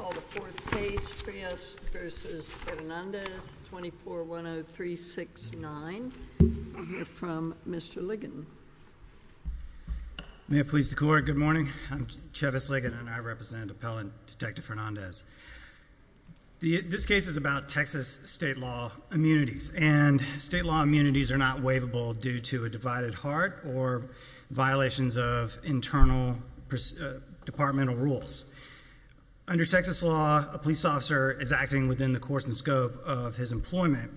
2410369. You're from Mr. Ligon. May it please the court, good morning. I'm Chevis Ligon and I represent Appellant Detective Hernandez. This case is about Texas state law immunities and state law immunities are not waivable due to a divided heart or violations of internal departmental rules. Under Texas law, a police officer is acting within the course and scope of his employment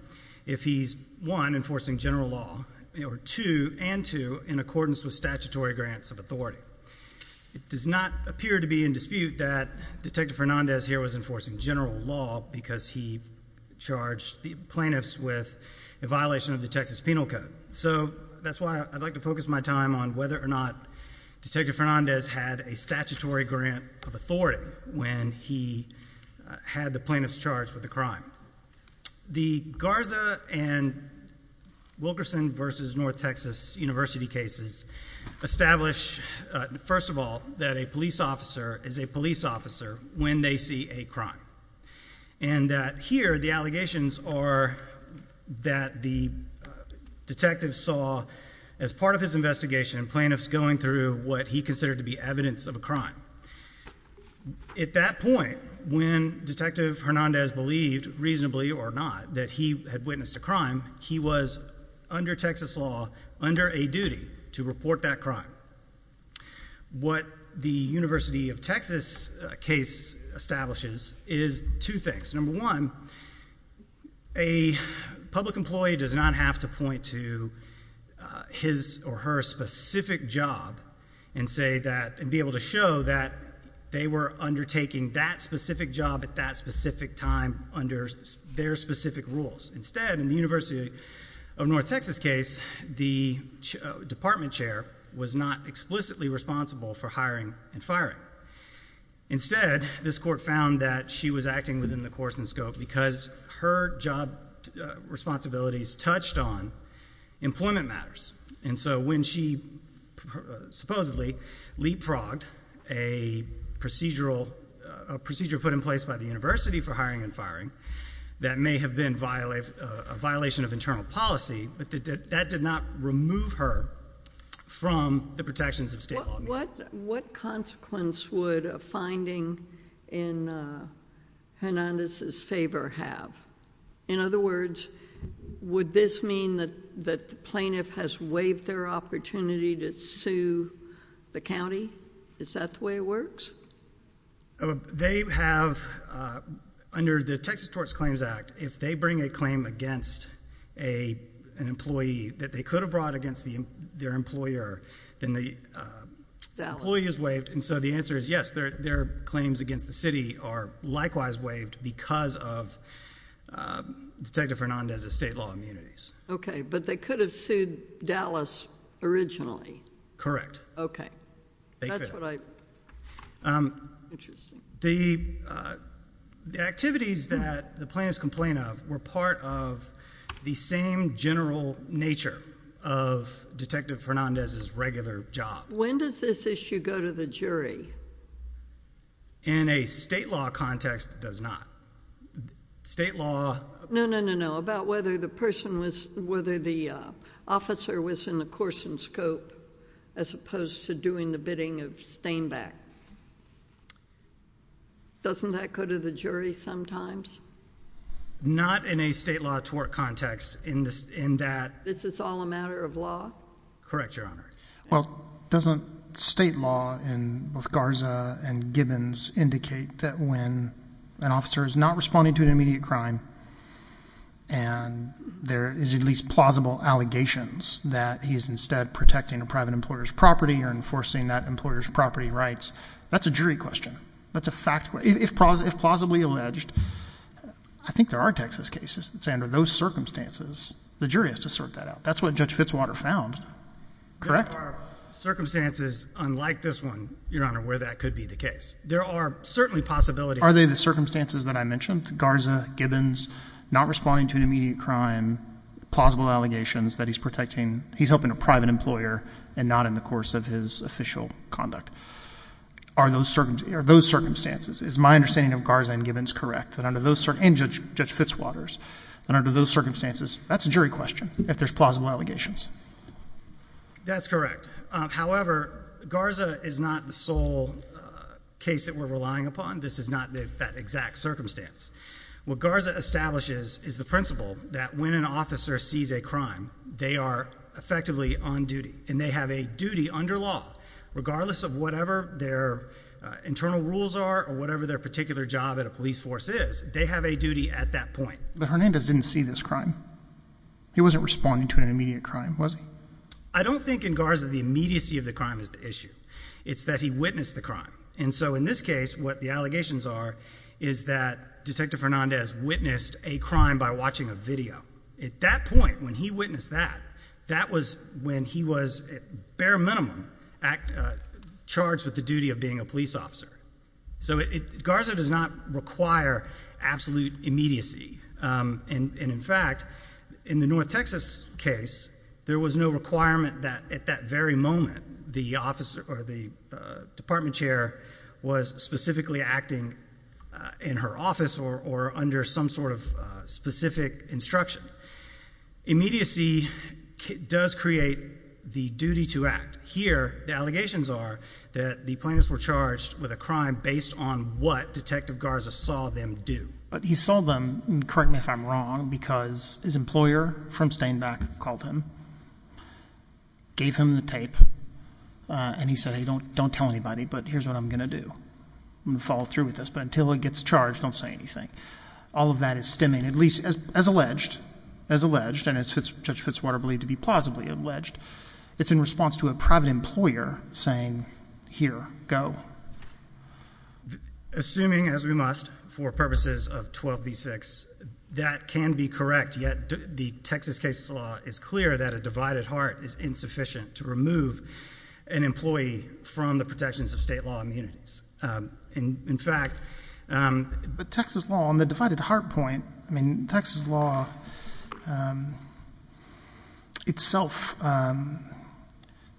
if he's, one, enforcing general law, or two, and two, in accordance with statutory grants of authority. It does not appear to be in dispute that Detective Hernandez here was enforcing general law because he charged the plaintiffs with a violation of the Texas Penal Code. So that's why I'd like to focus my time on whether or not Detective Hernandez had a statutory grant of authority when he had the plaintiffs charged with a crime. The Garza and Wilkerson v. North Texas University cases establish, first of all, that a police officer is a police officer when they see a crime, and that here the allegations are that the detective saw, as part of his investigation, plaintiffs going through what he considered to be evidence of a crime. At that point, when Detective Hernandez believed, reasonably or not, that he had witnessed a crime, he was, under Texas law, under a duty to report that crime. What the University of Texas case establishes is two things. Number one, a public employee does not have to point to his or her specific job and be able to show that they were undertaking that specific job at that specific time under their specific rules. Instead, in the University of North Texas case, the department chair was not explicitly responsible for hiring and firing. Instead, this court found that she was acting within the course and scope because her job responsibilities touched on employment matters. And so when she supposedly leapfrogged a procedure put in place by the University for hiring and firing that may have been a violation of internal policy, that did not remove her from the protections of state law. What consequence would a finding in Hernandez's favor have? In other words, would this mean that the plaintiff has waived their opportunity to sue the county? Is that the way it works? They have, under the Texas Tort Claims Act, if they bring a claim against an employee that they could have brought against their employer, then the employee is waived. And so the answer is yes, their claims against the city are likewise waived because of Detective Hernandez's state law immunities. Okay, but they could have sued Dallas originally. Correct. Okay. Interesting. The activities that the plaintiffs complain of were part of the same general nature of Detective Hernandez's regular job. When does this issue go to the jury? In a state law context, it does not. State law... No, no, no, no. About whether the officer was in the course and scope as opposed to doing the bidding of Stainback. Doesn't that go to the jury sometimes? Not in a state law tort context in that... This is all a matter of law? Correct, Your Honor. Well, doesn't state law in both Garza and Gibbons indicate that when an officer is not responding to an immediate crime and there is at least plausible allegations that he is instead protecting a private employer's property or enforcing that employer's property rights, that's a jury question. That's a fact... If plausibly alleged, I think there are Texas cases that say under those circumstances, the jury has to sort that out. That's what Judge Fitzwater found. Correct? There are circumstances unlike this one, Your Honor, where that could be the case. There are certainly possibilities... Are they the circumstances that I mentioned? Garza, Gibbons, not responding to an immediate crime, plausible allegations that he's protecting... He's helping a private employer and not in the course of his official conduct. Are those circumstances... Is my understanding of Garza and Gibbons correct? And Judge Fitzwater's. And under those circumstances, that's a jury question if there's plausible allegations. That's correct. However, Garza is not the sole case that we're relying upon. This is not that exact circumstance. What Garza establishes is the principle that when an officer sees a crime, they are effectively on duty and they have a duty under law regardless of whatever their internal rules are or whatever their particular job at a police force is. They have a duty at that point. But Hernandez didn't see this crime. He wasn't responding to an immediate crime, was he? I don't think in Garza the immediacy of the crime is the issue. It's that he witnessed the crime. And so in this case, what the allegations are is that Detective Hernandez witnessed a crime by watching a video. At that point, when he witnessed that, that was when he was at bare minimum charged with the duty of being a police officer. So Garza does not require absolute immediacy. And in fact, in the Texas case, there was no requirement that at that very moment the officer or the department chair was specifically acting in her office or under some sort of specific instruction. Immediacy does create the duty to act. Here, the allegations are that the plaintiffs were charged with a crime based on what Detective Garza saw them do. But he saw them, correct me if I'm wrong, because his employer from Stainback called him, gave him the tape, and he said, hey, don't tell anybody, but here's what I'm going to do. I'm going to follow through with this, but until he gets charged, don't say anything. All of that is stemming, at least as alleged, and as Judge Fitzwater believed to be plausibly alleged, it's in response to a private employer saying, here, go. Assuming as we must, for purposes of 12b-6, that can be correct, yet the Texas case law is clear that a divided heart is insufficient to remove an employee from the protections of state law immunities. In fact, the Texas law on the divided heart point, I mean, Texas law itself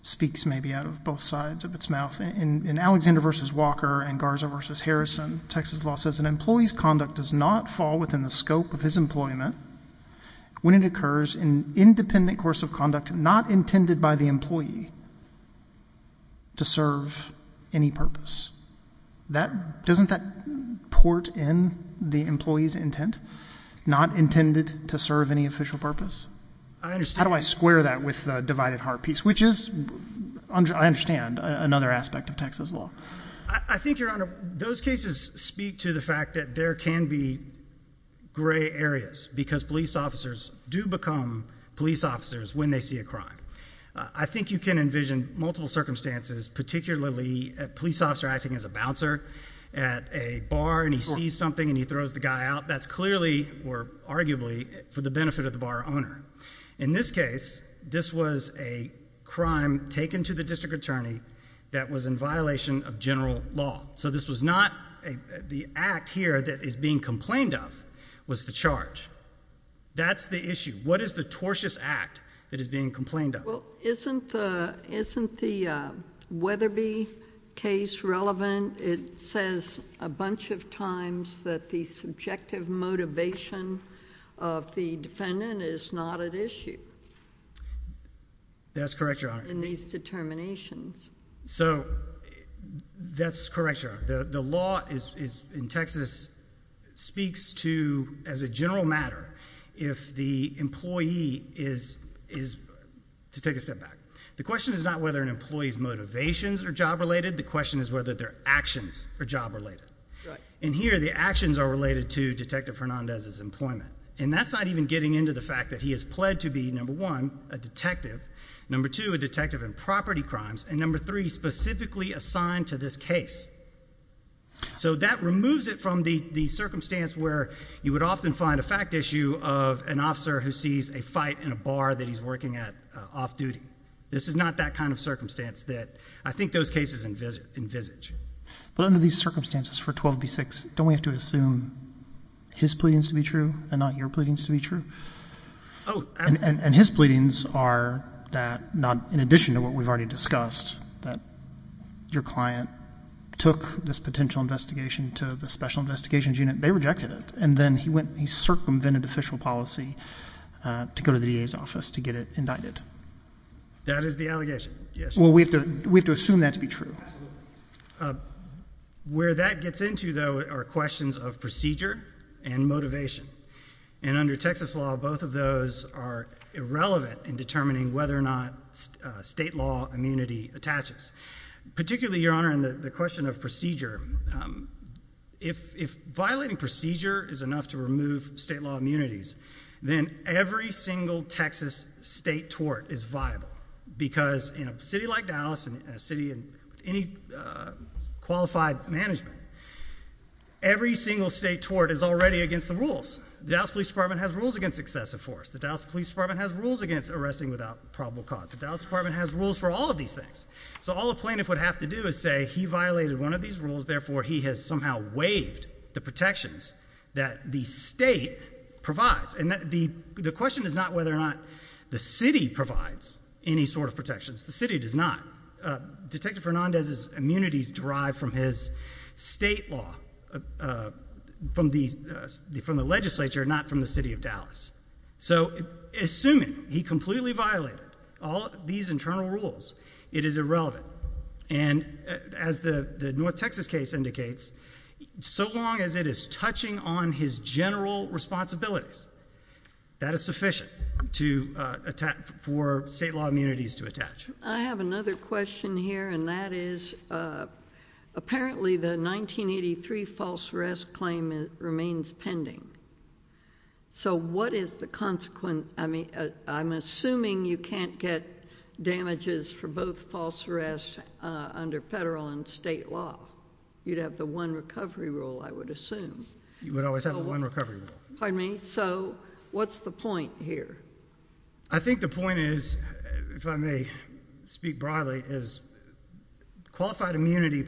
speaks maybe out of both sides of its mouth. In Alexander v. Walker and Garza v. Harrison, Texas law says an employee's conduct does not fall within the scope of his employment when it occurs in independent course of conduct not intended by the employee to serve any purpose. Doesn't that port in the employee's intent, not intended to serve any official purpose? How do I square that with the divided heart piece, which is, I understand, another aspect of Texas law. I think, Your Honor, those cases speak to the fact that there can be gray areas because police officers do become police officers when they see a crime. I think you can envision multiple circumstances, particularly a police officer acting as a bouncer at a bar and he sees something and he throws the guy out. That's clearly or arguably for the benefit of the bar owner. In this case, this was a crime taken to the district attorney that was in violation of general law. So this was not the act here that is being complained of was the charge. That's the issue. What is the tortious act that is being complained of? Well, isn't the Weatherby case relevant? It says a bunch of times that the subjective motivation of the defendant is not at issue... That's correct, Your Honor.... in these determinations. So that's correct, Your Honor. The law in Texas speaks to, as a general matter, if the employee is... to take a step back. The question is not whether an employee's motivations are job-related. The question is whether their actions are job-related. And here, the actions are related to Detective Fernandez's employment. And that's not even getting into the fact that he has pled to be, number one, a detective, number two, a detective in property crimes, and number three, specifically assigned to this case. So that removes it from the circumstance where you would often find a fact issue of an officer who sees a fight in a bar that he's working at off-duty. This is not that kind of circumstance that I think those cases envisage. But under these circumstances for 12b-6, don't we have to assume his pleadings to be true and not your pleadings to be true? And his pleadings are that, in addition to what we've already discussed, that your client took this potential investigation to the Special Investigations Unit. They rejected it. And then he circumvented official policy to go to the DA's office to get it indicted. That is the allegation, yes. Well, we have to assume that to be true. Where that gets into, though, are questions of procedure and motivation. And under Texas law, both of those are irrelevant in determining whether or not state law immunity attaches. Particularly, Your Honor, if you're trying to remove state law immunities, then every single Texas state tort is viable. Because in a city like Dallas, and a city with any qualified management, every single state tort is already against the rules. The Dallas Police Department has rules against excessive force. The Dallas Police Department has rules against arresting without probable cause. The Dallas Department has rules for all of these things. So all a plaintiff would have to do is say, he violated one of these rules, therefore he has somehow waived the protections that the state provides. And the question is not whether or not the city provides any sort of protections. The city does not. Detective Fernandez's immunities derive from his state law, from the legislature, not from the city of Dallas. So assuming he completely violated all of these general rules, it is irrelevant. And as the North Texas case indicates, so long as it is touching on his general responsibilities, that is sufficient for state law immunities to attach. I have another question here, and that is, apparently the 1983 false arrest claim remains pending. So what is the consequent, I'm assuming you can't get damages for both false arrest under federal and state law. You'd have the one recovery rule, I would assume. You would always have the one recovery rule. Pardon me, so what's the point here? I think the point is, if I may speak broadly, is qualified immunity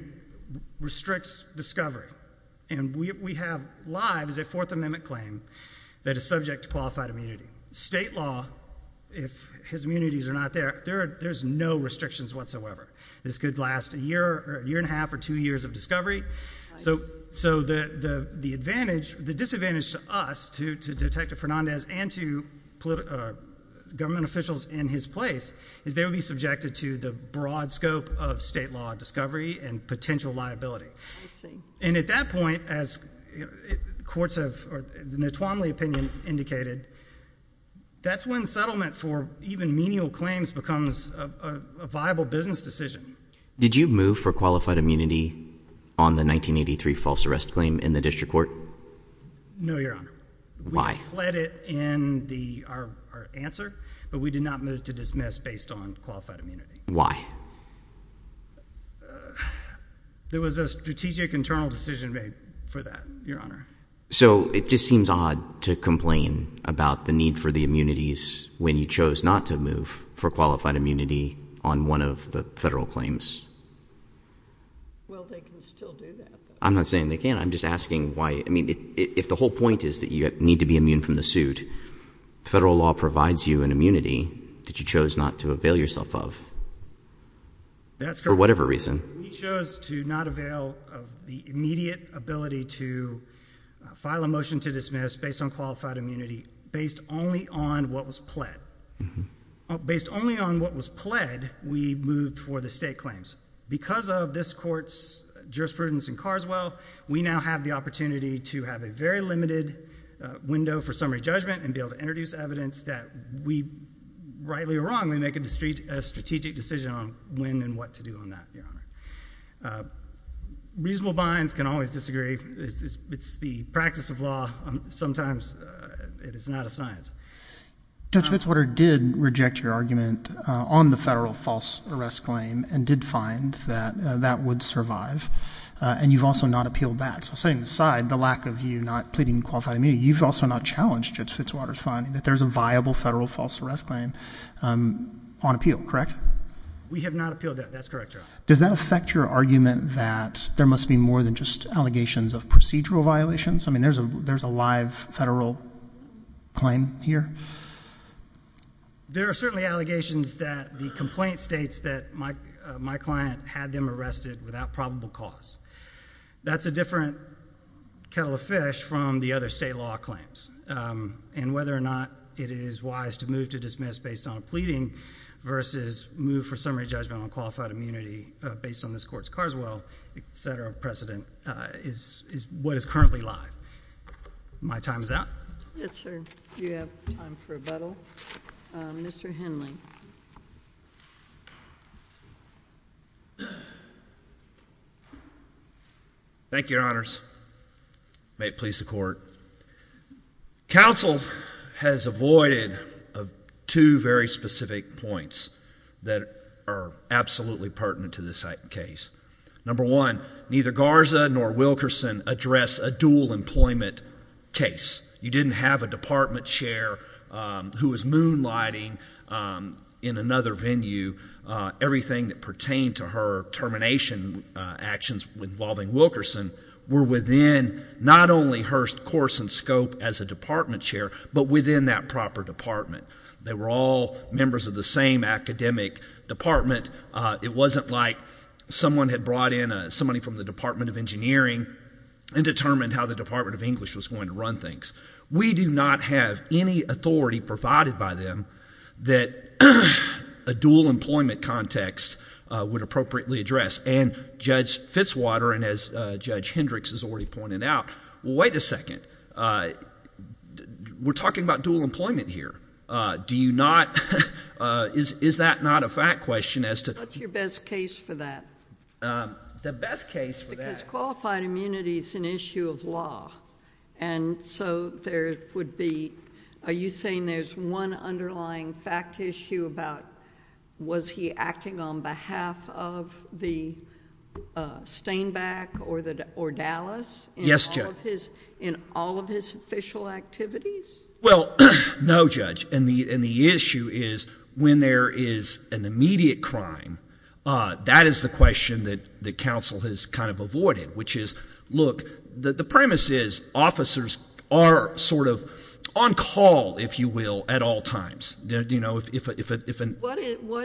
restricts discovery. And we have live, as a matter of fact, unqualified immunity. State law, if his immunities are not there, there's no restrictions whatsoever. This could last a year, a year and a half, or two years of discovery. So the disadvantage to us, to Detective Fernandez and to government officials in his place, is they would be subjected to the broad scope of state law discovery and potential liability. And at that point, as courts have, or the Notwomley opinion indicated, that's when settlement for even menial claims becomes a viable business decision. Did you move for qualified immunity on the 1983 false arrest claim in the district court? No, Your Honor. Why? We pled it in our answer, but we did not move to dismiss based on qualified immunity. Why? There was a strategic internal decision made for that, Your Honor. So it just seems odd to complain about the need for the immunities when you chose not to move for qualified immunity on one of the federal claims. Well, they can still do that. I'm not saying they can't. I'm just asking why. I mean, if the whole point is that you need to be immune from the suit, federal law provides you an immunity that you chose not to avail yourself of. That's correct. For whatever reason. We chose to not avail of the immediate ability to file a motion to dismiss based on qualified immunity, based only on what was pled. Based only on what was pled, we moved for the state claims. Because of this court's jurisprudence in Carswell, we now have the opportunity to have a very limited window for summary evidence that we, rightly or wrongly, make a strategic decision on when and what to do on that, Your Honor. Reasonable binds can always disagree. It's the practice of law. Sometimes it is not a science. Judge Fitzwater did reject your argument on the federal false arrest claim and did find that that would survive. And you've also not appealed that. So setting aside the lack of you not pleading qualified immunity, you've also not challenged Judge Fitzwater's finding that there's a viable federal false arrest claim on appeal, correct? We have not appealed that. That's correct, Your Honor. Does that affect your argument that there must be more than just allegations of procedural violations? I mean, there's a live federal claim here? There are certainly allegations that the complaint states that my client had them arrested without probable cause. That's a different kettle of fish from the other state law claims. And whether or not it is wise to move to dismiss based on a pleading versus move for summary judgment on qualified immunity based on this court's Carswell, et cetera, precedent is what is currently live. My time is up. Yes, sir. You have time for a battle. Mr Henley. Thank you, Your Honors. May it please the court. Council has avoided two very specific points that are absolutely pertinent to this case. Number one, neither Garza nor Wilkerson address a dual employment case. You didn't have a department chair who was moonlighting in another venue. Everything that pertained to her termination actions involving Wilkerson were within not only her course and scope as a department chair, but within that proper department. They were all members of the same academic department. It wasn't like someone had brought in somebody from the Department of Engineering and determined how the Department of English was going to run things. We do not have any authority provided by them that a dual employment context would appropriately address. And Judge Fitzwater and Judge Hendricks has already pointed out, wait a second, we're talking about dual employment here. Do you not, is that not a fact question as to What's your best case for that? The best case for that or Dallas? Yes, Judge. In all of his official activities? Well, no, Judge. And the issue is when there is an immediate crime, that is the question that the council has kind of avoided, which is, look, the premise is officers are sort of on call, if you will, at all times. What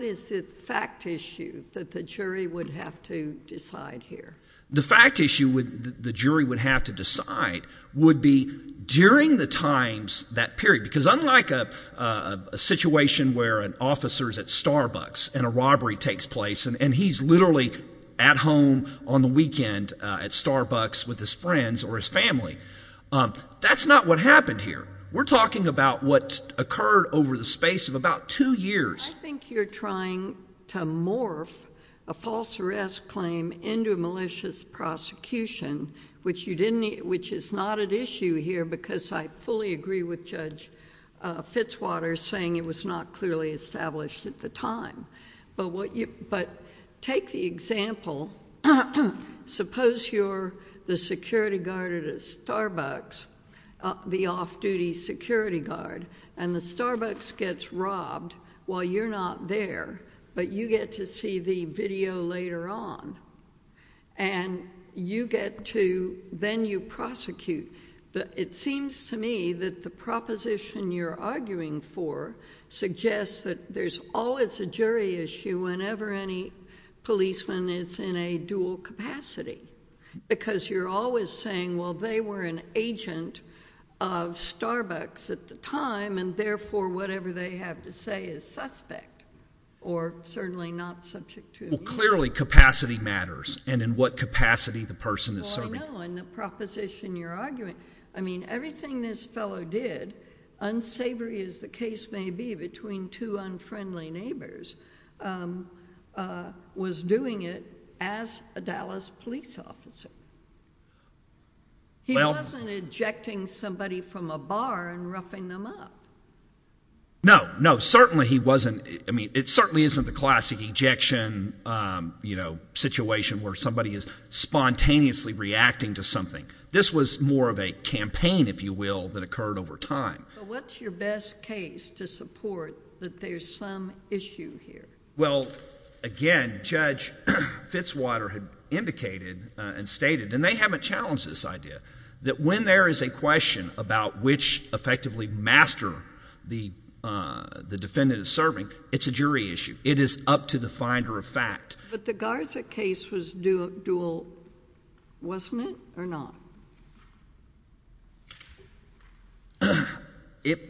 is the fact issue that the jury would have to decide here? The fact issue the jury would have to decide would be during the times that period, because unlike a situation where an officer is at Starbucks and a robbery takes place and he's literally at home on the weekend at Starbucks with his friends or his family, that's not what happened here. We're talking about what occurred over the space of about two years. I think you're trying to morph a false arrest claim into a malicious prosecution, which is not at issue here because I fully agree with Judge Fitzwater saying it was not clearly established at the time. But take the example, suppose you're the security guard at a Starbucks, the off-duty security guard, and the Starbucks gets robbed while you're not there, but you get to see the video later on. And you get to, then you prosecute. It seems to me that the proposition you're arguing for suggests that there's always a jury issue whenever any policeman is in a dual capacity, because you're always saying, well, they were an agent of Starbucks at the time, and therefore whatever they have to say is suspect, or certainly not subject to abuse. Well, clearly capacity matters, and in what capacity the person is serving. Well, I know, and the proposition you're arguing, I mean, everything this fellow did, unsavory as the case may be between two unfriendly neighbors, was doing it as a Dallas police officer. He wasn't ejecting somebody from a bar and roughing them up. No, no, certainly he wasn't. I mean, it certainly isn't the classic ejection, you know, situation where somebody is spontaneously reacting to something. This was more of a campaign, if you will, that occurred over time. So what's your best case to support that there's some issue here? Well, again, Judge Fitzwater had indicated and stated, and they haven't challenged this idea, that when there is a question about which effectively master the defendant is serving, it's a jury issue. It is up to the finder of fact. But the Garza case was dual, wasn't it, or not?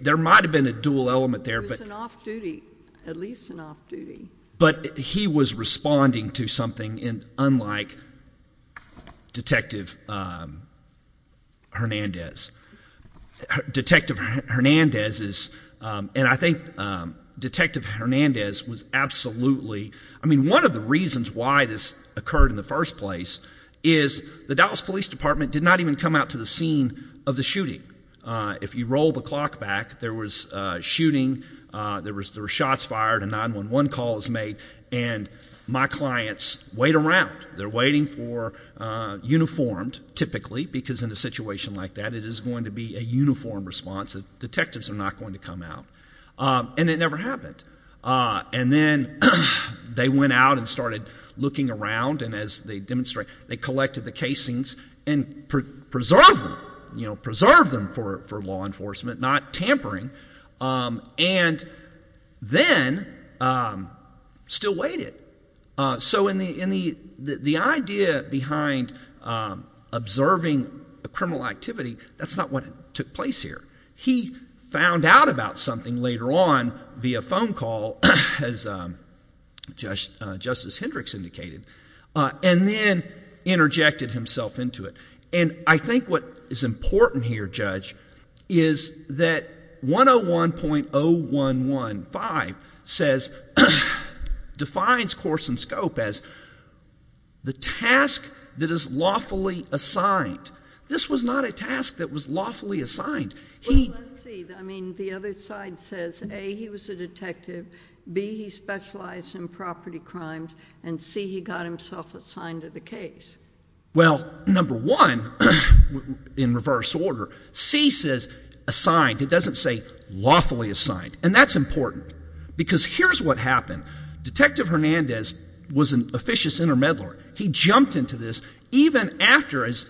There might have been a dual element there, but— At least an off-duty. But he was responding to something unlike Detective Hernandez. Detective Hernandez is—and I think Detective Hernandez was absolutely—I mean, one of the reasons why this occurred in the first place is the Dallas Police Department did not even come out to the scene of the shooting. If you roll the clock back, there was a shooting, there were shots fired, a 911 call was made, and my clients wait around. They're waiting for—uniformed, typically, because in a situation like that, it is going to be a uniform response. Detectives are not going to come out. And it never happened. And then they went out and started looking around, and as they demonstrated, they collected the casings and preserved them, you know, preserved them for law enforcement, not tampering, and then still waited. So the idea behind observing a criminal activity, that's not what took place here. He found out about something later on via phone call, as Justice Hendricks indicated, and then interjected himself into it. And I think what is important here, Judge, is that 101.0115 says—defines course and scope as the task that is lawfully assigned. This was not a task that was lawfully assigned. Well, let's see. I mean, the other side says, A, he was a detective, B, he specialized in property crimes, and C, he got himself assigned to the case. Well, number one, in reverse order, C says assigned. It doesn't say lawfully assigned. And that's important, because here's what happened. Detective Hernandez was an officious intermediary. He jumped into this even after, as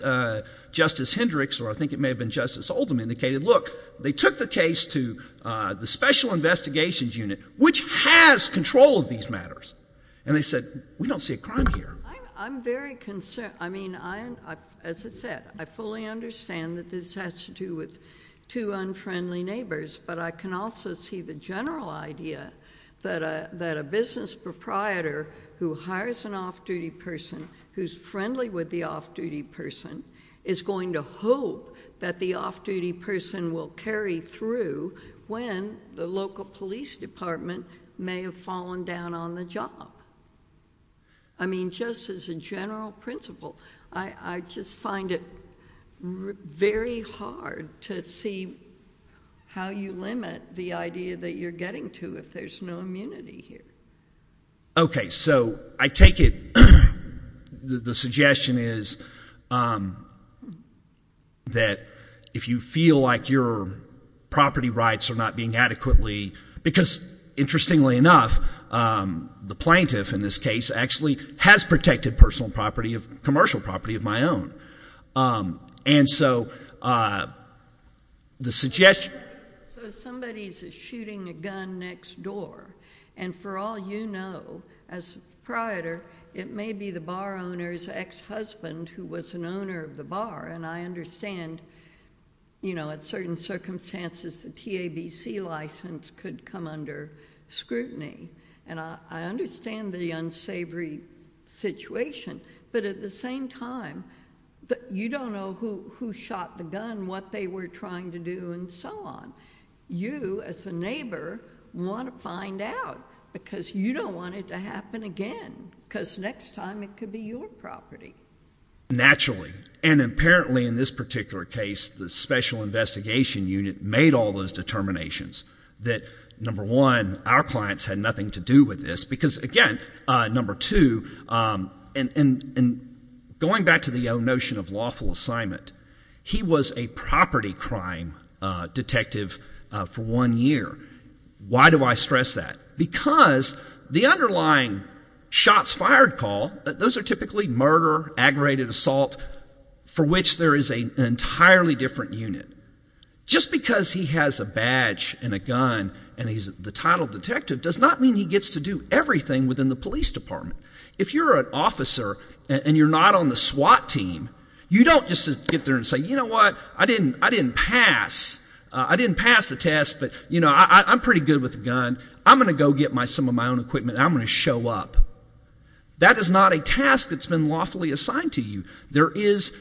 Justice Hendricks, or I think it may have been Justice Oldham, indicated, look, they took the case to the Special Investigations Unit, which has control of these matters. And they said, we don't see a crime here. I'm very concerned. I mean, as I said, I fully understand that this has to do with two unfriendly neighbors, but I can also see the general idea that a business proprietor who hires an off-duty person who's friendly with the off-duty person is going to hope that the off-duty person will carry through when the local police department may have fallen down on the job. I mean, just as a general principle, I just find it very hard to see how you limit the idea that you're getting to if there's no immunity here. OK, so I take it the suggestion is that if you feel like your property rights are not being adequately—because interestingly enough, the plaintiff in this case actually has protected commercial property of my own. And so the suggestion— You don't know who shot the gun, what they were trying to do, and so on. You, as a neighbor, want to find out, because you don't want it to happen again, because next time it could be your property. Naturally. And apparently in this particular case, the special investigation unit made all those determinations. That number one, our clients had nothing to do with this, because again, number two, going back to the notion of lawful assignment, he was a property crime detective for one year. Why do I stress that? Because the underlying shots fired call, those are typically murder, aggravated assault, for which there is an entirely different unit. Just because he has a badge and a gun and he's the title detective does not mean he gets to do everything within the police department. If you're an officer and you're not on the SWAT team, you don't just get there and say, you know what, I didn't pass. I didn't pass the test, but I'm pretty good with a gun. I'm going to go get some of my own equipment and I'm going to show up. That is not a task that's been lawfully assigned to you. There is,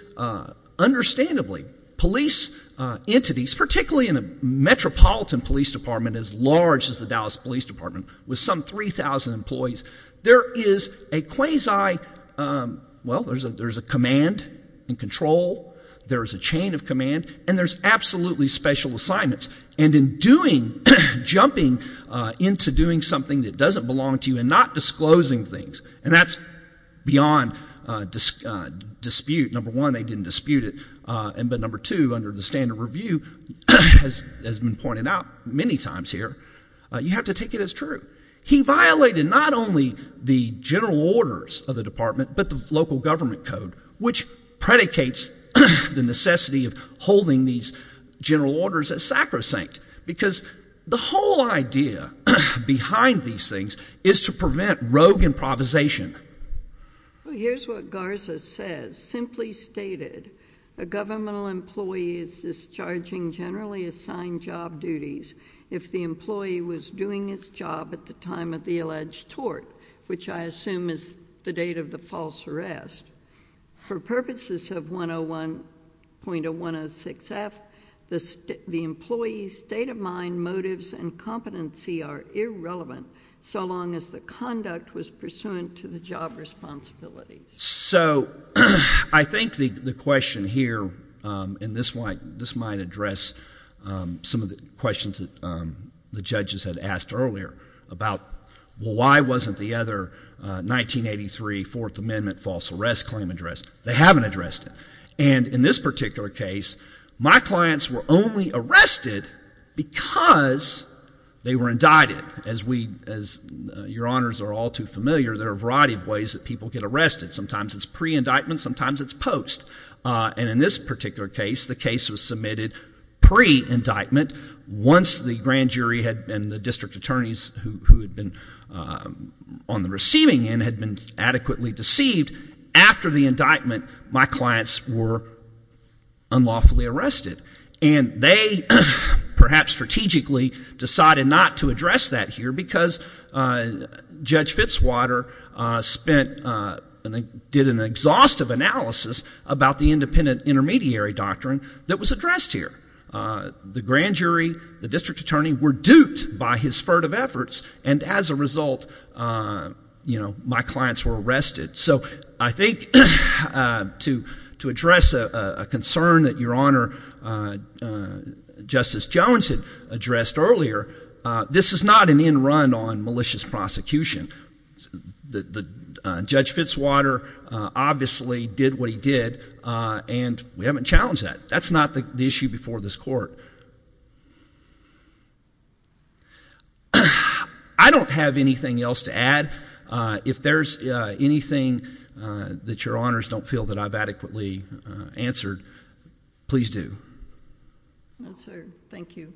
understandably, police entities, particularly in a metropolitan police department as large as the Dallas Police Department, with some 3,000 employees, there is a quasi, well, there's a command and control, there's a chain of command, and there's absolutely special assignments. And in doing, jumping into doing something that doesn't belong to you and not disclosing things, and that's beyond dispute. Number one, they didn't dispute it, but number two, under the standard review, as has been pointed out many times here, you have to take it as true. He violated not only the general orders of the department, but the local government code, which predicates the necessity of holding these general orders as sacrosanct. Because the whole idea behind these things is to prevent rogue improvisation. Here's what Garza says. Simply stated, a governmental employee is discharging generally assigned job duties if the employee was doing his job at the time of the alleged tort, which I assume is the date of the false arrest. For purposes of 101.106F, the employee's state of mind, motives, and competency are irrelevant so long as the conduct was pursuant to the job responsibilities. So I think the question here, and this might address some of the questions that the judges had asked earlier about why wasn't the other 1983 Fourth Amendment false arrest claim addressed? They haven't addressed it. And in this particular case, my clients were only arrested because they were indicted. As your honors are all too familiar, there are a variety of ways that people get arrested. Sometimes it's pre-indictment. Sometimes it's post. And in this particular case, the case was submitted pre-indictment once the grand jury and the district attorneys who had been on the receiving end had been adequately deceived. After the indictment, my clients were unlawfully arrested. And they perhaps strategically decided not to address that here because Judge Fitzwater did an exhaustive analysis about the independent intermediary doctrine that was addressed here. The grand jury, the district attorney were duped by his furtive efforts, and as a result, my clients were arrested. So I think to address a concern that your honor Justice Jones had addressed earlier, this is not an end run on malicious prosecution. Judge Fitzwater obviously did what he did, and we haven't challenged that. That's not the issue before this court. I don't have anything else to add. If there's anything that your honors don't feel that I've adequately answered, please do. Thank you.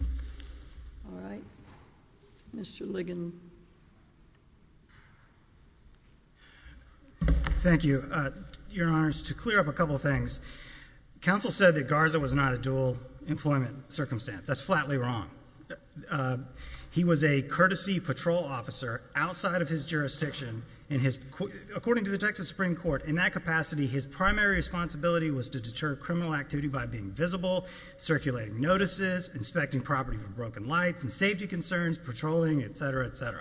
All right. Mr. Ligon. Thank you. Your honors, to clear up a couple of things. Counsel said that Garza was not a dual employment circumstance. That's flatly wrong. He was a courtesy patrol officer outside of his jurisdiction. According to the Texas Supreme Court, in that capacity, his primary responsibility was to deter criminal activity by being visible, circulating notices, inspecting property for broken lights, safety concerns, patrolling, etc., etc.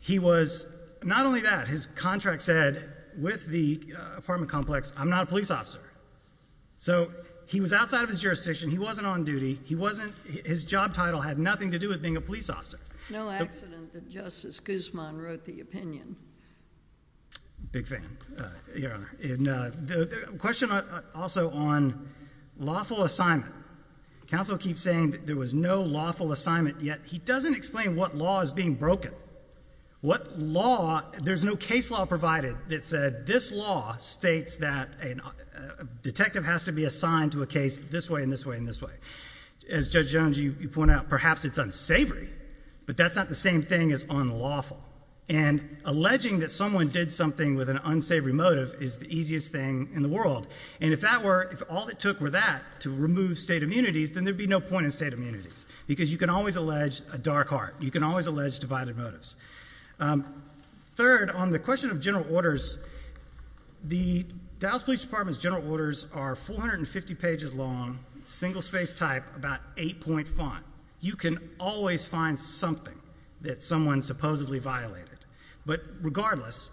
He was not only that. His contract said, with the apartment complex, I'm not a police officer. So he was outside of his jurisdiction. He wasn't on duty. His job title had nothing to do with being a police officer. No accident that Justice Guzman wrote the opinion. Big fan. The question also on lawful assignment. Counsel keeps saying that there was no lawful assignment, yet he doesn't explain what law is being broken by. What law, there's no case law provided that said this law states that a detective has to be assigned to a case this way and this way and this way. As Judge Jones, you point out, perhaps it's unsavory, but that's not the same thing as unlawful. And alleging that someone did something with an unsavory motive is the easiest thing in the world. And if that were, if all it took were that to remove state immunities, then there would be no point in state immunities. Because you can always allege a dark heart. You can always allege divided motives. Third, on the question of general orders, the Dallas Police Department's general orders are 450 pages long, single space type, about 8 point font. You can always find something that someone supposedly violated. But regardless,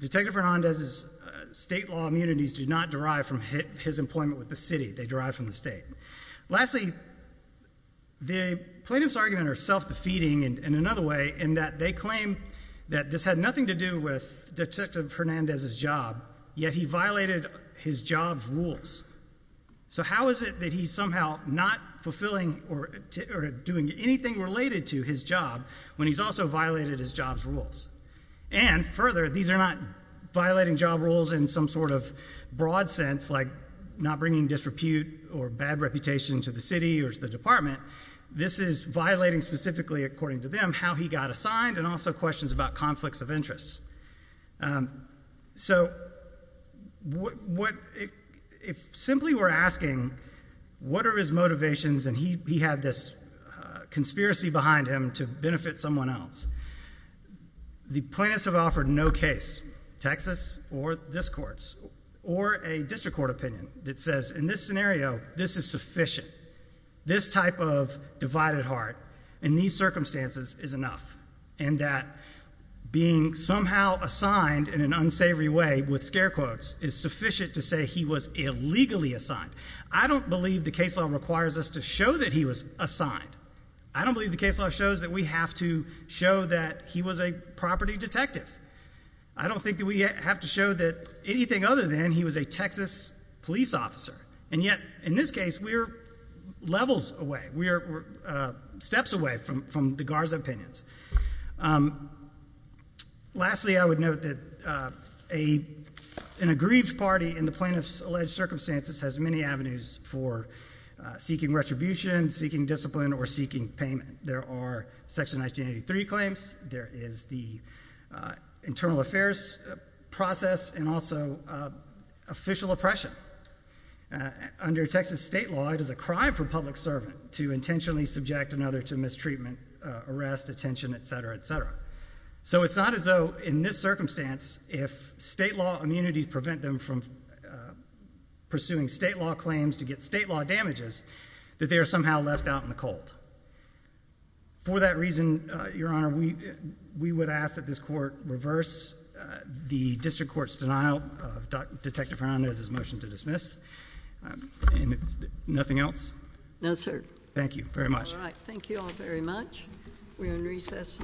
Detective Hernandez's state law immunities do not derive from his employment with the city. They derive from the state. Lastly, the plaintiff's arguments are self-defeating in another way in that they claim that this had nothing to do with Detective Hernandez's job, yet he violated his job's rules. So how is it that he's somehow not fulfilling or doing anything related to his job when he's also violated his job's rules? And further, these are not violating job rules in some sort of broad sense, like not bringing disrepute or bad reputation to the city or to the department. This is violating specifically, according to them, how he got assigned and also questions about conflicts of interest. So, if simply we're asking, what are his motivations and he had this conspiracy behind him to benefit someone else. The plaintiffs have offered no case, Texas or this court's, or a district court opinion that says, in this scenario, this is sufficient. This type of divided heart in these circumstances is enough. And that being somehow assigned in an unsavory way with scare quotes is sufficient to say he was illegally assigned. I don't believe the case law requires us to show that he was assigned. I don't believe the case law shows that we have to show that he was a property detective. I don't think that we have to show that anything other than he was a Texas police officer. And yet, in this case, we're levels away. We're steps away from the guards' opinions. Lastly, I would note that an aggrieved party in the plaintiff's alleged circumstances has many avenues for seeking retribution, seeking discipline, or seeking payment. There are Section 1983 claims. There is the internal affairs process and also official oppression. Under Texas state law, it is a crime for a public servant to intentionally subject another to mistreatment, arrest, detention, etc., etc. So it's not as though, in this circumstance, if state law immunities prevent them from pursuing state law claims to get state law damages, that they are somehow left out in the cold. For that reason, Your Honor, we would ask that this Court reverse the District Court's denial of Detective Hernandez's motion to dismiss. Nothing else? No, sir. Thank you very much. All right, thank you all very much. We are in recess.